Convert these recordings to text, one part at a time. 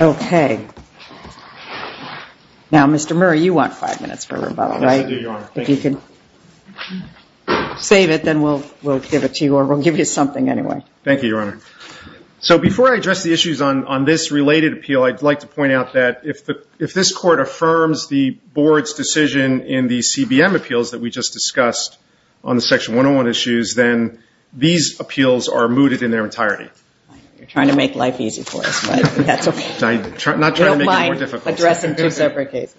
Okay. Now, Mr. Murray, you want five minutes for rebuttal, right? Yes, I do, Your Honor. Thank you. If you could save it, then we'll give it to you, or we'll give you something anyway. Thank you, Your Honor. So before I address the issues on this related appeal, I'd like to point out that if this Court affirms the Board's decision in the CBM appeals that we just discussed on the Section 101 issues, then these appeals are mooted in their entirety. You're trying to make life easy for us, but that's okay. I'm not trying to make it more difficult. You don't mind addressing two separate cases.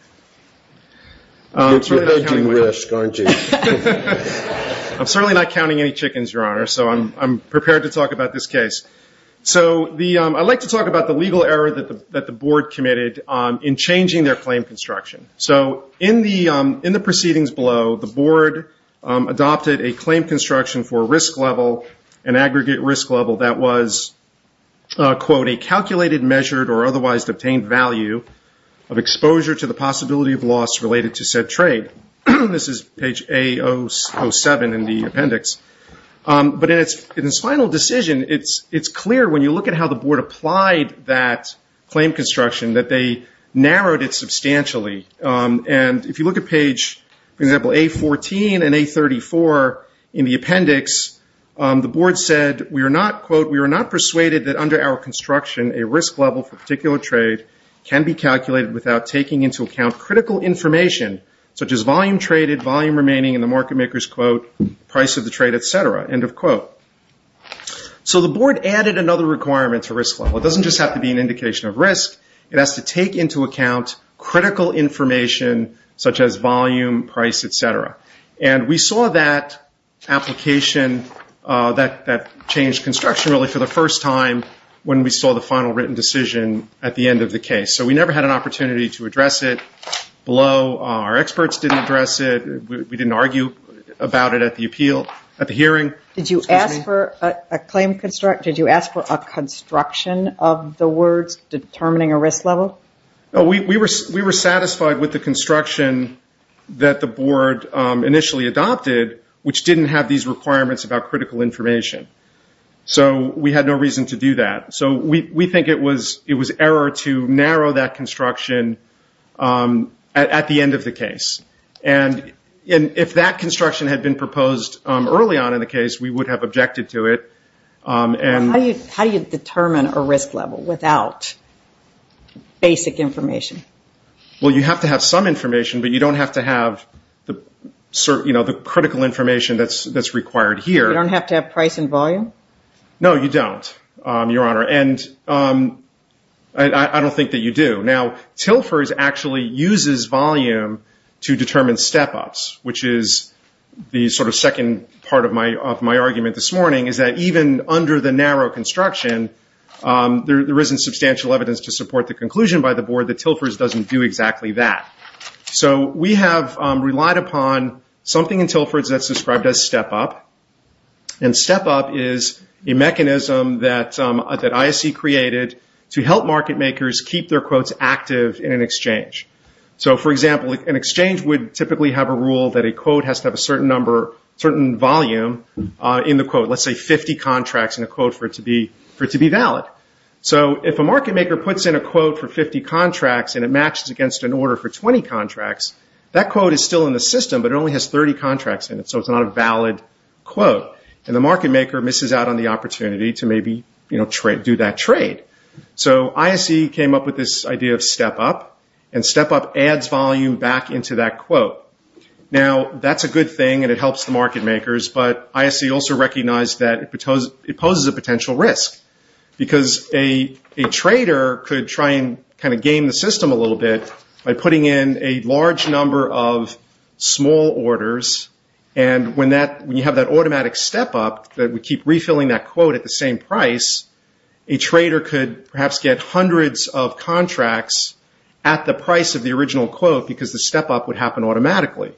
You're hedging risk, aren't you? I'm certainly not counting any chickens, Your Honor, so I'm prepared to talk about this case. So I'd like to talk about the legal error that the Board committed in changing their claim construction. So in the proceedings below, the Board adopted a claim construction for a risk level, an aggregate risk level, that was, quote, a calculated, measured, or otherwise obtained value of exposure to the possibility of loss related to said trade. This is page A07 in the appendix. But in its final decision, it's clear when you look at how the Board applied that claim construction that they narrowed it substantially. And if you look at page, for example, A14 and A34 in the appendix, the Board said, quote, So the Board added another requirement to risk level. It doesn't just have to be an indication of risk. It has to take into account critical information such as volume, price, et cetera. And we saw that application that changed construction really for the first time when we saw the final written decision at the end of the case. So we never had an opportunity to address it below. Our experts didn't address it. We didn't argue about it at the hearing. Did you ask for a construction of the words determining a risk level? We were satisfied with the construction that the Board initially adopted, which didn't have these requirements about critical information. So we had no reason to do that. So we think it was error to narrow that construction at the end of the case. And if that construction had been proposed early on in the case, we would have objected to it. How do you determine a risk level without basic information? Well, you have to have some information, but you don't have to have the critical information that's required here. You don't have to have price and volume? No, you don't, Your Honor. And I don't think that you do. Now, TILFERS actually uses volume to determine step-ups, which is the sort of second part of my argument this morning, is that even under the narrow construction, there isn't substantial evidence to support the conclusion by the Board that TILFERS doesn't do exactly that. So we have relied upon something in TILFERS that's described as step-up. And step-up is a mechanism that ISC created to help market makers keep their quotes active in an exchange. So, for example, an exchange would typically have a rule that a quote has to have a certain volume in the quote, let's say 50 contracts in a quote for it to be valid. So if a market maker puts in a quote for 50 contracts and it matches against an order for 20 contracts, that quote is still in the system, but it only has 30 contracts in it, so it's not a valid quote. And the market maker misses out on the opportunity to maybe do that trade. So ISC came up with this idea of step-up, and step-up adds volume back into that quote. Now, that's a good thing, and it helps the market makers, but ISC also recognized that it poses a potential risk, because a trader could try and kind of game the system a little bit by putting in a large number of small orders, and when you have that automatic step-up, that we keep refilling that quote at the same price, a trader could perhaps get hundreds of contracts at the price of the original quote because the step-up would happen automatically.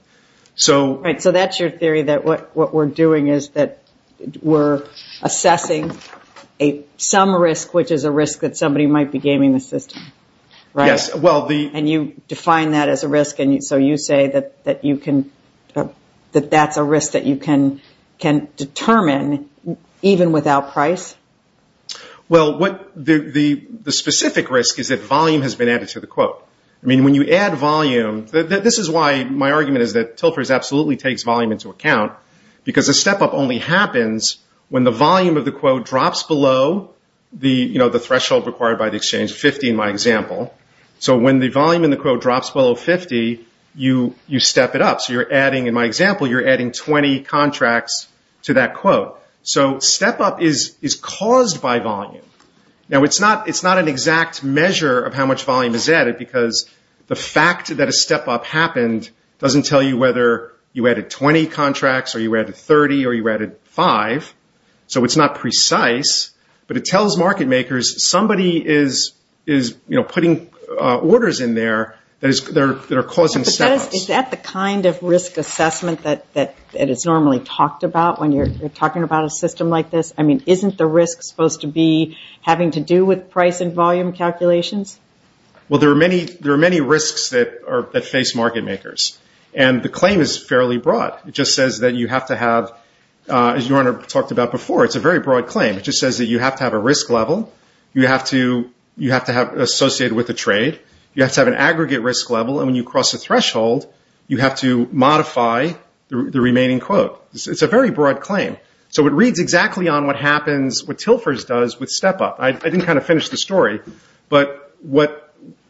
Right, so that's your theory, that what we're doing is that we're assessing some risk, which is a risk that somebody might be gaming the system, right? Yes. And you define that as a risk, and so you say that that's a risk that you can determine even without price? Well, the specific risk is that volume has been added to the quote. I mean, when you add volume, this is why my argument is that Tilfers absolutely takes volume into account, because a step-up only happens when the volume of the quote drops below the threshold required by the exchange, 50 in my example. So when the volume in the quote drops below 50, you step it up. So you're adding, in my example, you're adding 20 contracts to that quote. So step-up is caused by volume. Now, it's not an exact measure of how much volume is added, because the fact that a step-up happened doesn't tell you whether you added 20 contracts or you added 30 or you added 5, so it's not precise, but it tells market makers somebody is putting orders in there that are causing step-ups. Is that the kind of risk assessment that is normally talked about when you're talking about a system like this? I mean, isn't the risk supposed to be having to do with price and volume calculations? Well, there are many risks that face market makers, and the claim is fairly broad. It just says that you have to have, as your Honor talked about before, it's a very broad claim. It just says that you have to have a risk level, you have to have associated with a trade, you have to have an aggregate risk level, and when you cross a threshold, you have to modify the remaining quote. It's a very broad claim, so it reads exactly on what happens, what TILFERS does with step-up. I didn't kind of finish the story, but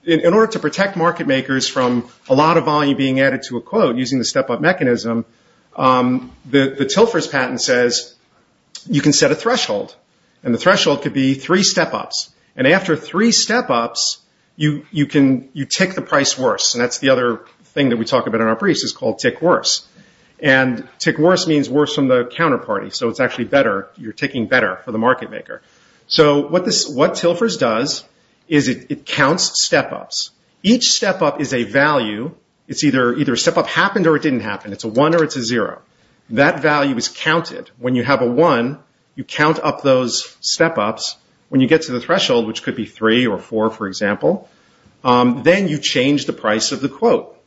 in order to protect market makers from a lot of volume being added to a quote using the step-up mechanism, the TILFERS patent says you can set a threshold, and the threshold could be three step-ups, and after three step-ups, you tick the price worse, and that's the other thing that we talk about in our briefs is called tick worse. And tick worse means worse from the counterparty, so it's actually better, you're ticking better for the market maker. So what TILFERS does is it counts step-ups. Each step-up is a value, it's either a step-up happened or it didn't happen, it's a one or it's a zero. That value is counted. When you have a one, you count up those step-ups. When you get to the threshold, which could be three or four, for example, then you change the price of the quote.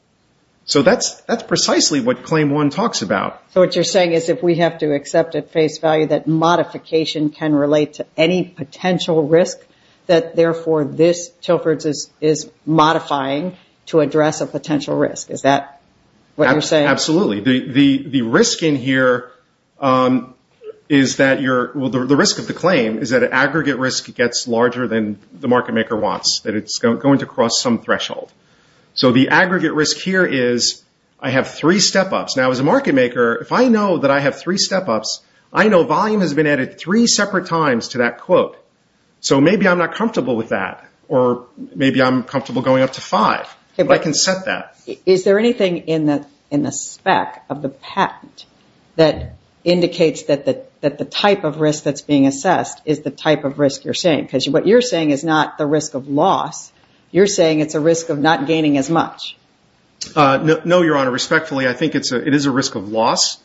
So that's precisely what claim one talks about. So what you're saying is if we have to accept at face value that modification can relate to any potential risk, that therefore this TILFERS is modifying to address a potential risk. Is that what you're saying? Absolutely. The risk in here is that you're, well, the risk of the claim is that aggregate risk gets larger than the market maker wants, that it's going to cross some threshold. So the aggregate risk here is I have three step-ups. Now as a market maker, if I know that I have three step-ups, I know volume has been added three separate times to that quote. So maybe I'm not comfortable with that, or maybe I'm comfortable going up to five. I can set that. Is there anything in the spec of the patent that indicates that the type of risk that's being assessed is the type of risk you're saying? Because what you're saying is not the risk of loss. You're saying it's a risk of not gaining as much. No, Your Honor. Respectfully, I think it is a risk of loss.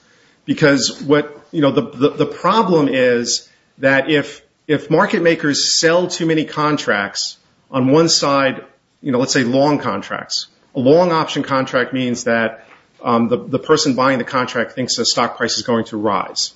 The problem is that if market makers sell too many contracts on one side, let's say long contracts, a long option contract means that the person buying the contract thinks the stock price is going to rise.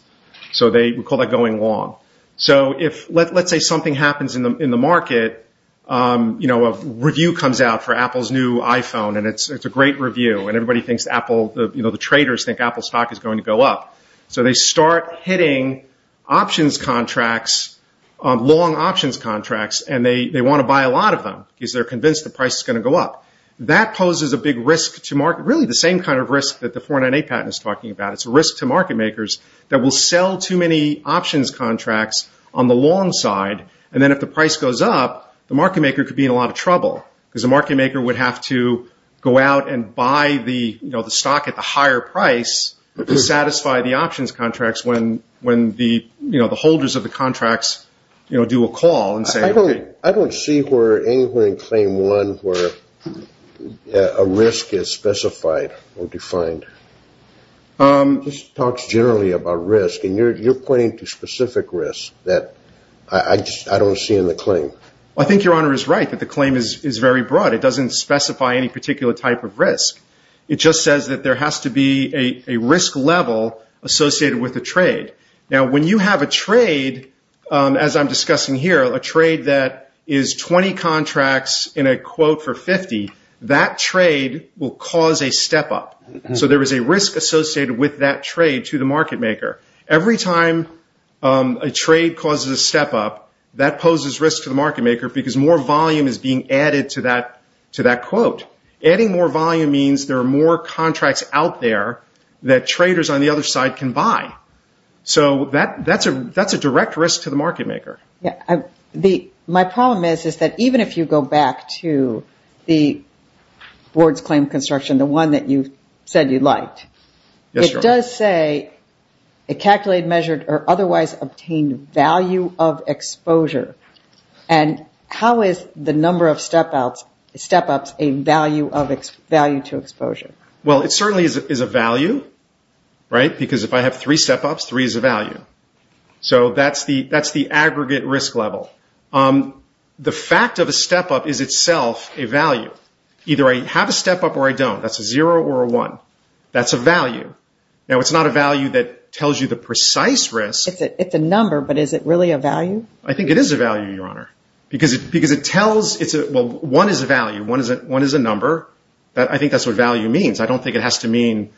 So we call that going long. So let's say something happens in the market. A review comes out for Apple's new iPhone, and it's a great review. Everybody thinks Apple, the traders think Apple's stock is going to go up. So they start hitting options contracts, long options contracts, and they want to buy a lot of them because they're convinced the price is going to go up. That poses a big risk to market, really the same kind of risk that the 498 patent is talking about. It's a risk to market makers that will sell too many options contracts on the long side, and then if the price goes up, the market maker could be in a lot of trouble because the market maker would have to go out and buy the stock at the higher price to satisfy the options contracts when the holders of the contracts do a call. I don't see anywhere in claim one where a risk is specified or defined. This talks generally about risk, and you're pointing to specific risk that I don't see in the claim. I think Your Honor is right that the claim is very broad. It doesn't specify any particular type of risk. It just says that there has to be a risk level associated with a trade. Now when you have a trade, as I'm discussing here, a trade that is 20 contracts in a quote for 50, that trade will cause a step up. So there is a risk associated with that trade to the market maker. Every time a trade causes a step up, that poses risk to the market maker because more volume is being added to that quote. Adding more volume means there are more contracts out there that traders on the other side can buy. So that's a direct risk to the market maker. My problem is that even if you go back to the board's claim construction, the one that you said you liked, it does say it calculated, measured, or otherwise obtained value of exposure. How is the number of step ups a value to exposure? Well, it certainly is a value, right? Because if I have three step ups, three is a value. So that's the aggregate risk level. The fact of a step up is itself a value. Either I have a step up or I don't. That's a zero or a one. That's a value. Now it's not a value that tells you the precise risk. It's a number, but is it really a value? I think it is a value, Your Honor. One is a value. One is a number. I think that's what value means. I don't think it has to mean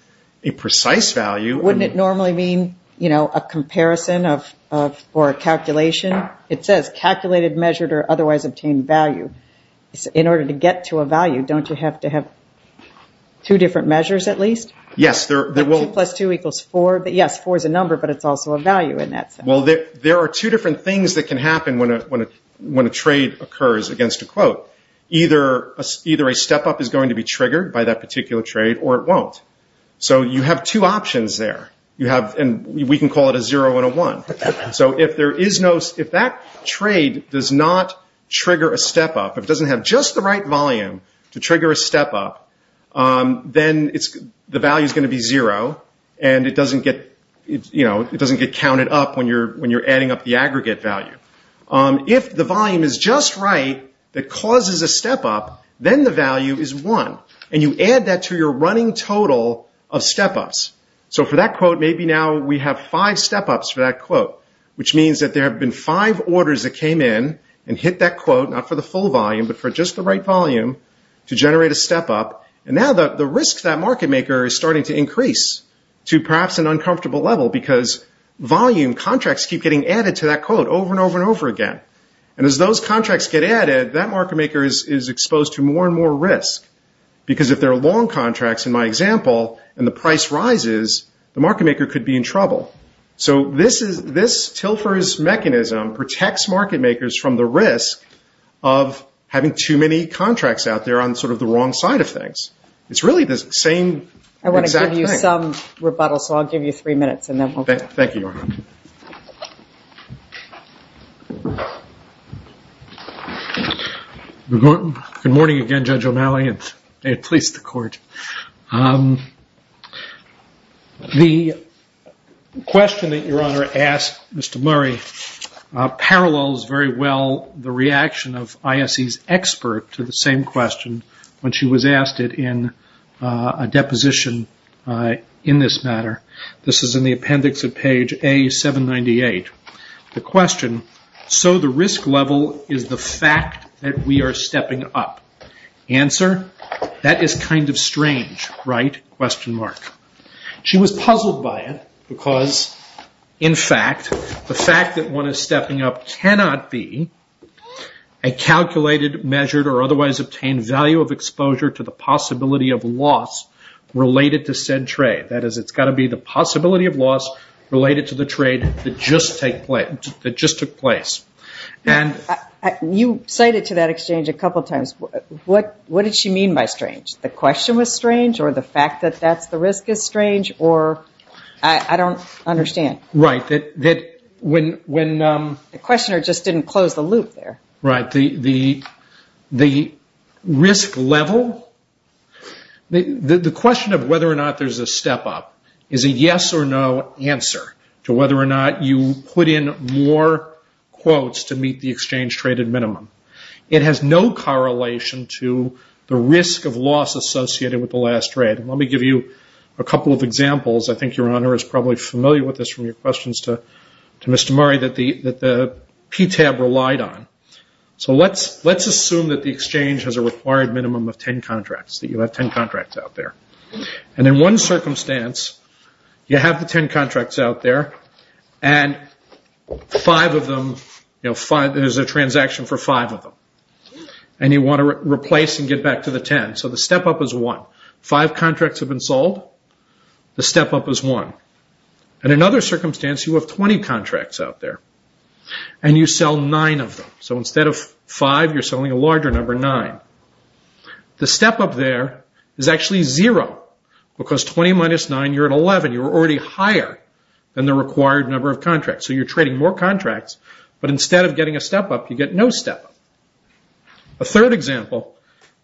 a precise value. Wouldn't it normally mean a comparison or a calculation? It says calculated, measured, or otherwise obtained value. In order to get to a value, don't you have to have two different measures at least? Yes. Two plus two equals four. Yes, four is a number, but it's also a value in that sense. Well, there are two different things that can happen when a trade occurs against a quote. Either a step up is going to be triggered by that particular trade, or it won't. So you have two options there. We can call it a zero and a one. So if that trade does not trigger a step up, if it doesn't have just the right volume to trigger a step up, then the value is going to be zero, and it doesn't get counted up when you're adding up the aggregate value. If the volume is just right, that causes a step up, then the value is one, and you add that to your running total of step ups. So for that quote, maybe now we have five step ups for that quote, which means that there have been five orders that came in and hit that quote, not for the full volume, but for just the right volume to generate a step up. And now the risk to that market maker is starting to increase to perhaps an uncomfortable level because volume contracts keep getting added to that quote over and over and over again. And as those contracts get added, that market maker is exposed to more and more risk because if they're long contracts, in my example, and the price rises, the market maker could be in trouble. So this Tilfer's mechanism protects market makers from the risk of having too many contracts out there on sort of the wrong side of things. It's really the same exact thing. I want to give you some rebuttal, so I'll give you three minutes, and then we'll go. Thank you. Good morning again, Judge O'Malley, and may it please the Court. The question that Your Honor asked Mr. Murray parallels very well the reaction of ISE's expert to the same question when she was asked it in a deposition in this matter. This is in the appendix of page A798. The question, so the risk level is the fact that we are stepping up. Answer, that is kind of strange, right? She was puzzled by it because, in fact, the fact that one is stepping up cannot be a calculated, measured, or otherwise obtained value of exposure to the possibility of loss related to said trade. That is, it's got to be the possibility of loss related to the trade that just took place. You cited to that exchange a couple of times. What did she mean by strange? The question was strange, or the fact that that's the risk is strange, or I don't understand. Right. The questioner just didn't close the loop there. Right. The risk level, the question of whether or not there's a step up is a yes or no answer to whether or not you put in more quotes to meet the exchange traded minimum. It has no correlation to the risk of loss associated with the last trade. Let me give you a couple of examples. I think your Honor is probably familiar with this from your questions to Mr. Murray that the PTAB relied on. So let's assume that the exchange has a required minimum of 10 contracts, that you have 10 contracts out there. In one circumstance, you have the 10 contracts out there, and there's a transaction for five of them. You want to replace and get back to the 10. So the step up is one. Five contracts have been sold. The step up is one. In another circumstance, you have 20 contracts out there, and you sell nine of them. The step up there is actually zero, because 20 minus nine, you're at 11. You're already higher than the required number of contracts. So you're trading more contracts, but instead of getting a step up, you get no step up. A third example,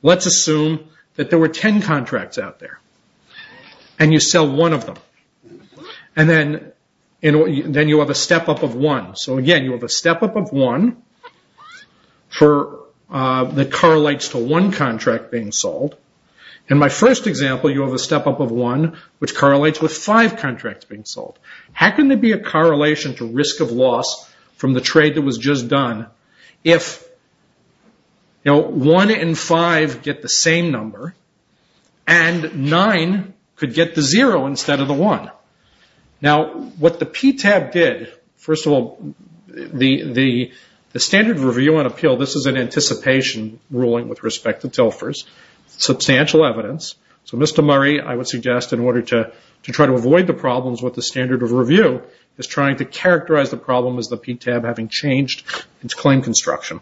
let's assume that there were 10 contracts out there, and you sell one of them. Then you have a step up of one. So again, you have a step up of one that correlates to one contract being sold. In my first example, you have a step up of one, which correlates with five contracts being sold. How can there be a correlation to risk of loss from the trade that was just done if one and five get the same number, and nine could get the zero instead of the one? Now, what the PTAB did, first of all, the standard review and appeal, this is an anticipation ruling with respect to TILFers, substantial evidence. So Mr. Murray, I would suggest in order to try to avoid the problems with the standard of review, is trying to characterize the problem as the PTAB having changed its claim construction.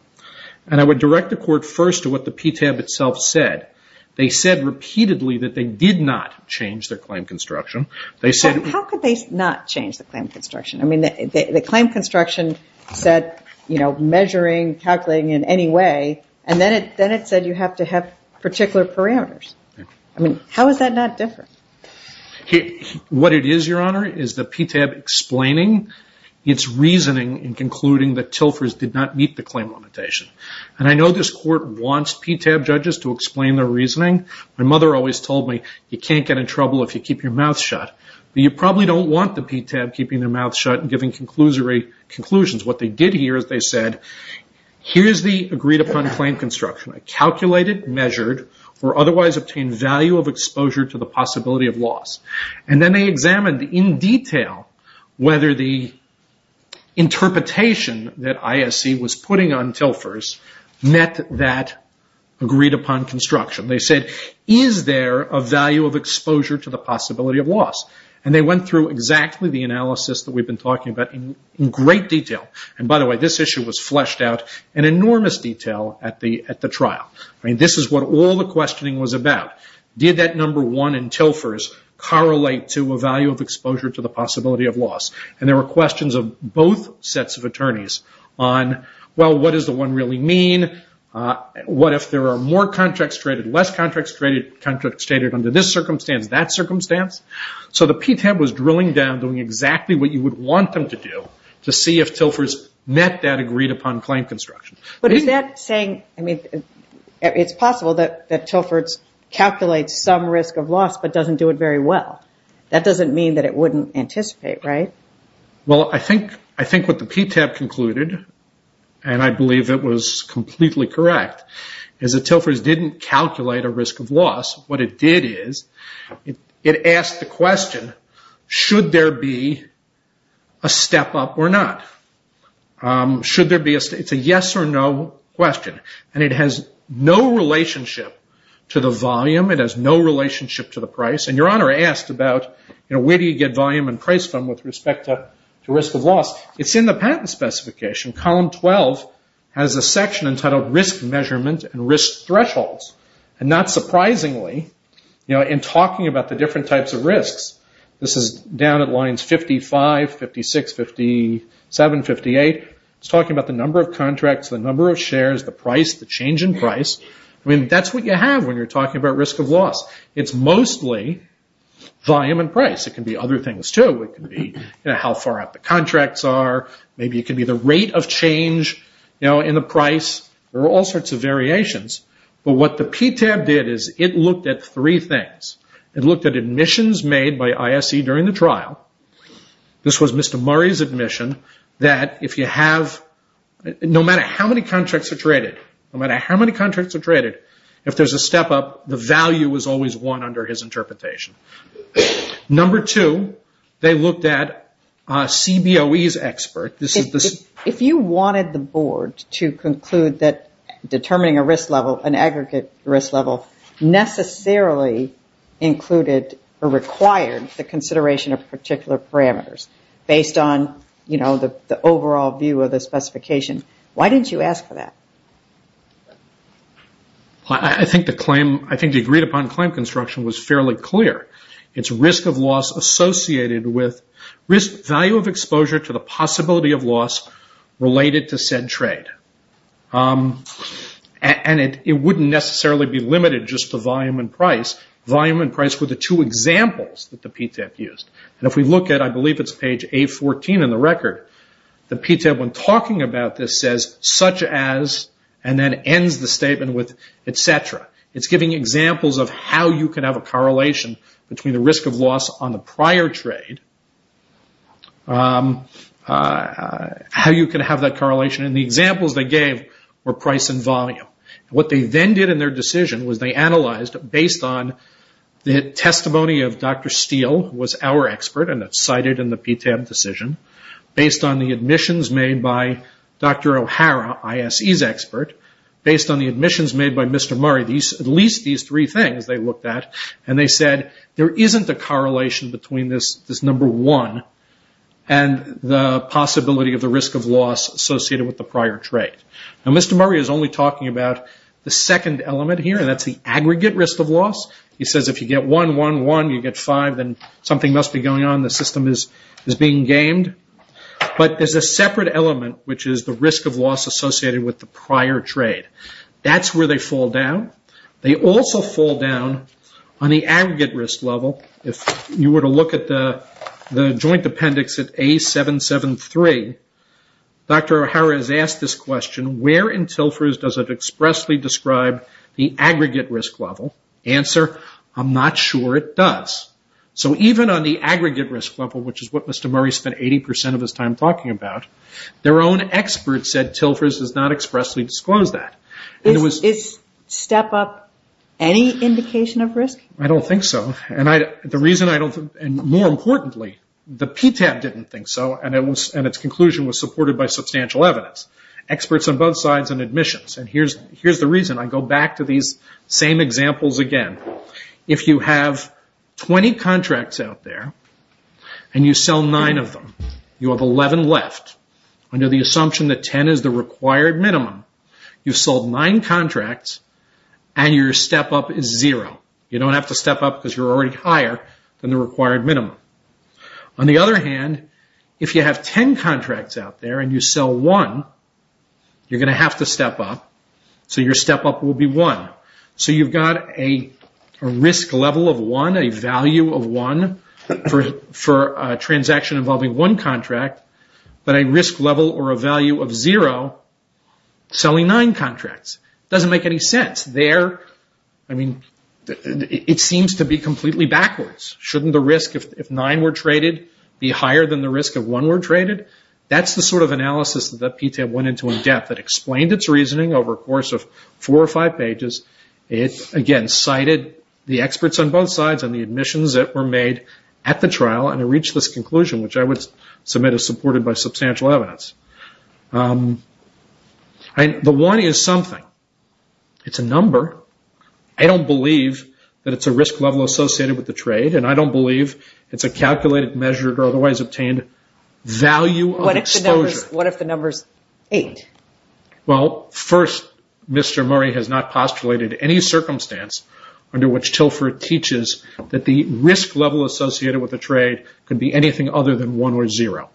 And I would direct the court first to what the PTAB itself said. They said repeatedly that they did not change their claim construction. How could they not change the claim construction? I mean, the claim construction said measuring, calculating in any way, and then it said you have to have particular parameters. I mean, how is that not different? What it is, Your Honor, is the PTAB explaining its reasoning in concluding that TILFers did not meet the claim limitation. And I know this court wants PTAB judges to explain their reasoning. My mother always told me, you can't get in trouble if you keep your mouth shut. You probably don't want the PTAB keeping their mouth shut and giving conclusions. What they did here is they said, here is the agreed upon claim construction. I calculated, measured, or otherwise obtained value of exposure to the possibility of loss. And then they examined in detail whether the interpretation that ISC was putting on TILFers met that agreed upon construction. They said, is there a value of exposure to the possibility of loss? And they went through exactly the analysis that we've been talking about in great detail. And by the way, this issue was fleshed out in enormous detail at the trial. I mean, this is what all the questioning was about. Did that number one in TILFers correlate to a value of exposure to the possibility of loss? And there were questions of both sets of attorneys on, well, what does the one really mean? What if there are more contracts traded, less contracts traded, contracts traded under this circumstance, that circumstance? So the PTAB was drilling down doing exactly what you would want them to do to see if TILFers met that agreed upon claim construction. But is that saying, I mean, it's possible that TILFers calculate some risk of loss but doesn't do it very well. That doesn't mean that it wouldn't anticipate, right? Well, I think what the PTAB concluded, and I believe it was completely correct, is that TILFers didn't calculate a risk of loss. What it did is it asked the question, should there be a step up or not? It's a yes or no question. And it has no relationship to the volume. It has no relationship to the price. And Your Honor asked about, you know, where do you get volume and price from with respect to risk of loss? It's in the patent specification. Column 12 has a section entitled Risk Measurement and Risk Thresholds. And not surprisingly, you know, in talking about the different types of risks, this is down at lines 55, 56, 57, 58, it's talking about the number of contracts, the number of shares, the price, the change in price. I mean, that's what you have when you're talking about risk of loss. It's mostly volume and price. It can be other things, too. It can be, you know, how far up the contracts are. Maybe it can be the rate of change, you know, in the price. There are all sorts of variations. But what the PTAB did is it looked at three things. It looked at admissions made by ISE during the trial. This was Mr. Murray's admission that if you have, no matter how many contracts are traded, no matter how many contracts are traded, if there's a step up, the value is always one under his interpretation. Number two, they looked at CBOE's expert. If you wanted the board to conclude that determining a risk level, an aggregate risk level, necessarily included or required the consideration of particular parameters based on, you know, the overall view of the specification, why didn't you ask for that? I think the agreed upon claim construction was fairly clear. It's risk of loss associated with value of exposure to the possibility of loss related to said trade. And it wouldn't necessarily be limited just to volume and price. Volume and price were the two examples that the PTAB used. And if we look at, I believe it's page A14 in the record, the PTAB when talking about this says, such as, and then ends the statement with, et cetera. It's giving examples of how you can have a correlation between the risk of loss on the prior trade, how you can have that correlation. And the examples they gave were price and volume. What they then did in their decision was they analyzed based on the testimony of Dr. Steele, who was our expert and cited in the PTAB decision, based on the admissions made by Dr. O'Hara, ISE's expert, based on the admissions made by Mr. Murray, at least these three things they looked at, and they said there isn't a correlation between this number one and the possibility of the risk of loss associated with the prior trade. Now, Mr. Murray is only talking about the second element here, and that's the aggregate risk of loss. He says if you get one, one, one, you get five, then something must be going on. The system is being gamed. But there's a separate element, which is the risk of loss associated with the prior trade. That's where they fall down. They also fall down on the aggregate risk level. If you were to look at the joint appendix at A773, Dr. O'Hara has asked this question, where in TILFERS does it expressly describe the aggregate risk level? Answer, I'm not sure it does. So even on the aggregate risk level, which is what Mr. Murray spent 80% of his time talking about, their own experts said TILFERS does not expressly disclose that. Is step up any indication of risk? I don't think so. The reason I don't think, and more importantly, the PTAB didn't think so, and its conclusion was supported by substantial evidence. Experts on both sides and admissions. Here's the reason. I go back to these same examples again. If you have 20 contracts out there and you sell nine of them, you have 11 left. Under the assumption that 10 is the required minimum, you've sold nine contracts and your step up is zero. You don't have to step up because you're already higher than the required minimum. On the other hand, if you have 10 contracts out there and you sell one, you're going to have to step up, so your step up will be one. So you've got a risk level of one, a value of one for a transaction involving one contract, but a risk level or a value of zero selling nine contracts. It doesn't make any sense. It seems to be completely backwards. Shouldn't the risk if nine were traded be higher than the risk if one were traded? That's the sort of analysis that the PTAB went into in depth. It explained its reasoning over a course of four or five pages. It, again, cited the experts on both sides and the admissions that were made at the trial, and it reached this conclusion, which I would submit is supported by substantial evidence. The one is something. It's a number. I don't believe that it's a risk level associated with the trade, and I don't believe it's a calculated, measured, or otherwise obtained value of exposure. What if the number is eight? Well, first, Mr. Murray has not postulated any circumstance under which Tilford teaches that the risk level associated with a trade could be anything other than one or zero.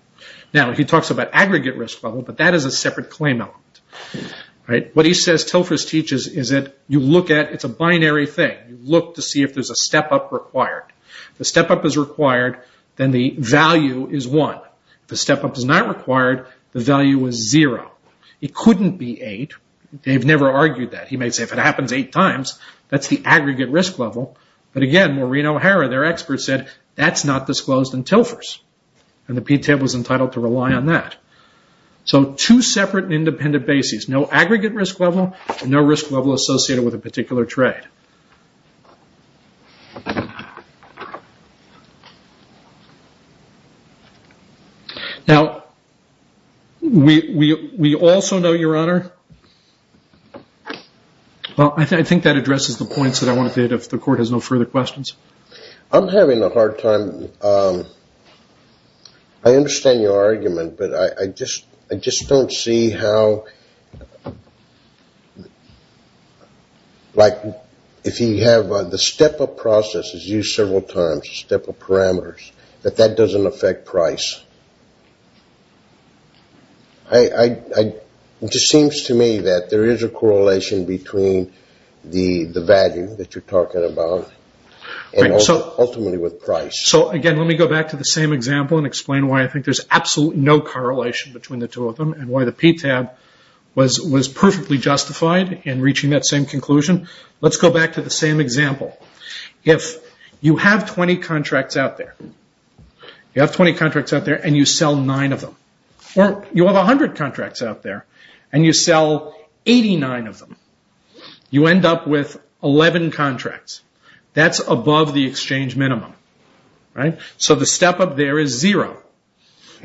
Now, he talks about aggregate risk level, but that is a separate claim element. What he says Tilford teaches is that you look at it. It's a binary thing. You look to see if there's a step-up required. If a step-up is required, then the value is one. If a step-up is not required, the value is zero. It couldn't be eight. They've never argued that. He may say, if it happens eight times, that's the aggregate risk level. But, again, Maureen O'Hara, their expert, said that's not disclosed in Tilford's, and the PTAB was entitled to rely on that. So two separate and independent bases. No aggregate risk level, no risk level associated with a particular trade. Now, we also know, Your Honor, well, I think that addresses the points that I wanted to hit if the Court has no further questions. I'm having a hard time. I understand your argument, but I just don't see how, like, if you have the step-up process is used several times, step-up parameters, that that doesn't affect price. It just seems to me that there is a correlation between the value that you're talking about and ultimately with price. So, again, let me go back to the same example and explain why I think there's absolutely no correlation between the two of them and why the PTAB was perfectly justified in reaching that same conclusion. Let's go back to the same example. If you have 20 contracts out there and you sell nine of them, or you have 100 contracts out there and you sell 89 of them, you end up with 11 contracts. That's above the exchange minimum. So the step-up there is zero.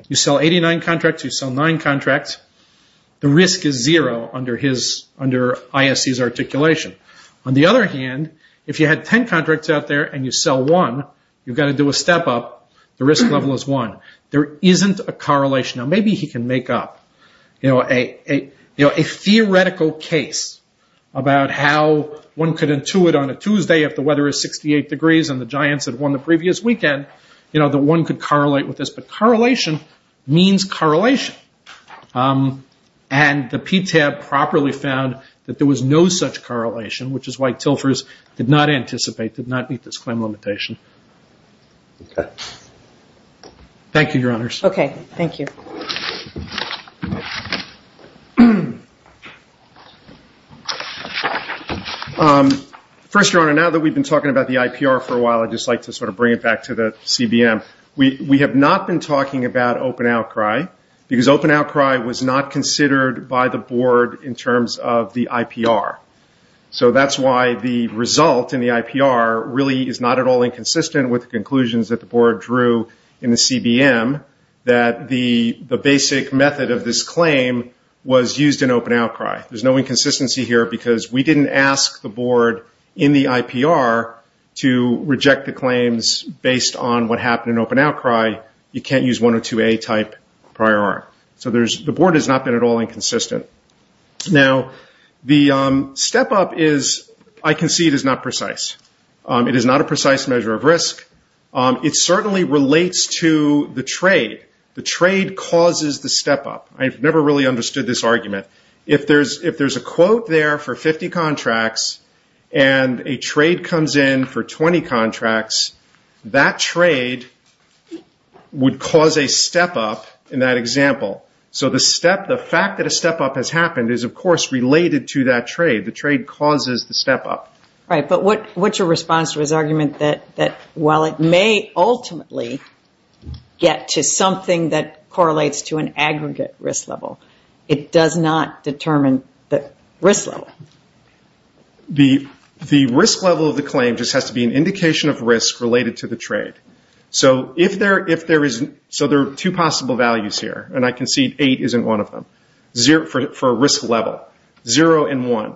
You sell 89 contracts. You sell nine contracts. The risk is zero under ISC's articulation. On the other hand, if you had 10 contracts out there and you sell one, you've got to do a step-up. The risk level is one. There isn't a correlation. Now, maybe he can make up a theoretical case about how one could intuit on a Tuesday, if the weather is 68 degrees and the Giants had won the previous weekend, that one could correlate with this. But correlation means correlation. And the PTAB properly found that there was no such correlation, which is why Tilfers did not anticipate, did not meet this claim limitation. Okay. Thank you, Your Honors. Okay, thank you. First, Your Honor, now that we've been talking about the IPR for a while, I'd just like to sort of bring it back to the CBM. We have not been talking about open outcry, because open outcry was not considered by the board in terms of the IPR. So that's why the result in the IPR really is not at all inconsistent with the conclusions that the board drew in the CBM, that the basic method of this claim was used in open outcry. There's no inconsistency here, because we didn't ask the board in the IPR to reject the claims based on what happened in open outcry. You can't use 102A type prior art. So the board has not been at all inconsistent. Now, the step up is, I can see it is not precise. It is not a precise measure of risk. It certainly relates to the trade. The trade causes the step up. I've never really understood this argument. If there's a quote there for 50 contracts and a trade comes in for 20 contracts, that trade would cause a step up in that example. So the fact that a step up has happened is, of course, related to that trade. The trade causes the step up. All right, but what's your response to his argument that, while it may ultimately get to something that correlates to an aggregate risk level, it does not determine the risk level? The risk level of the claim just has to be an indication of risk related to the trade. So there are two possible values here, and I can see 8 isn't one of them, for a risk level, 0 and 1.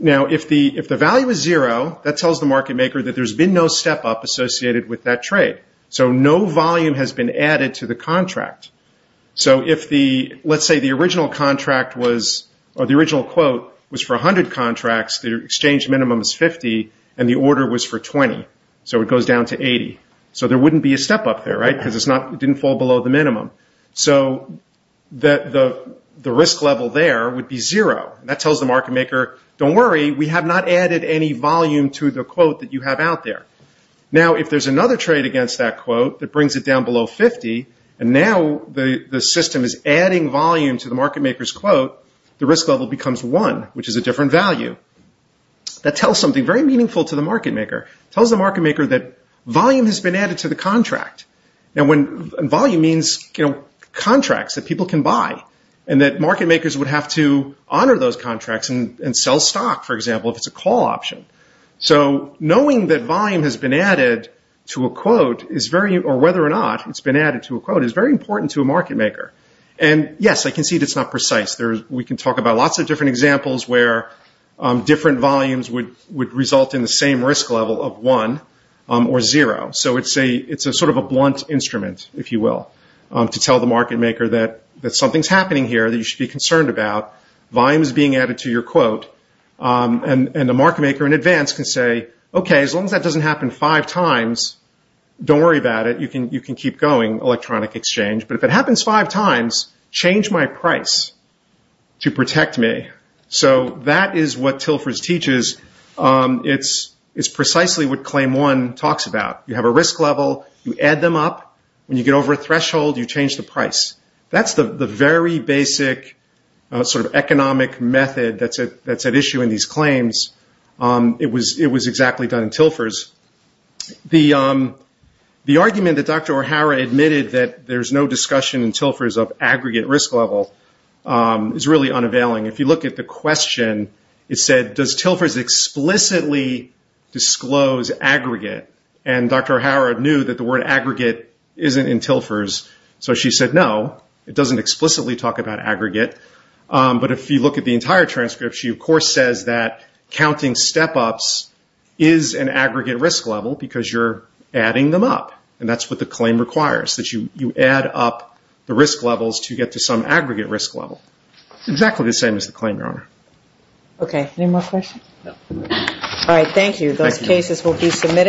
Now, if the value is 0, that tells the market maker that there's been no step up associated with that trade. So no volume has been added to the contract. So let's say the original quote was for 100 contracts, the exchange minimum is 50, and the order was for 20. So it goes down to 80. So there wouldn't be a step up there, right, because it didn't fall below the minimum. So the risk level there would be 0. That tells the market maker, don't worry, we have not added any volume to the quote that you have out there. Now, if there's another trade against that quote that brings it down below 50, and now the system is adding volume to the market maker's quote, the risk level becomes 1, which is a different value. That tells something very meaningful to the market maker. It tells the market maker that volume has been added to the contract. And volume means contracts that people can buy, and that market makers would have to honor those contracts and sell stock, for example, if it's a call option. So knowing that volume has been added to a quote, or whether or not it's been added to a quote, is very important to a market maker. And, yes, I can see it's not precise. We can talk about lots of different examples where different volumes would result in the same risk level of 1 or 0. So it's sort of a blunt instrument, if you will, to tell the market maker that something's happening here that you should be concerned about. Volume is being added to your quote. And the market maker in advance can say, okay, as long as that doesn't happen five times, don't worry about it. You can keep going, electronic exchange. But if it happens five times, change my price to protect me. So that is what TILFERS teaches. It's precisely what Claim 1 talks about. You have a risk level. You add them up. When you get over a threshold, you change the price. That's the very basic sort of economic method that's at issue in these claims. It was exactly done in TILFERS. The argument that Dr. O'Hara admitted that there's no discussion in TILFERS of aggregate risk level is really unavailing. If you look at the question, it said, does TILFERS explicitly disclose aggregate? And Dr. O'Hara knew that the word aggregate isn't in TILFERS, so she said no. It doesn't explicitly talk about aggregate. But if you look at the entire transcript, she of course says that counting step-ups is an aggregate risk level because you're adding them up. And that's what the claim requires, that you add up the risk levels to get to some aggregate risk level. It's exactly the same as the claim, Your Honor. Okay, any more questions? No. All right, thank you. Those cases will be submitted.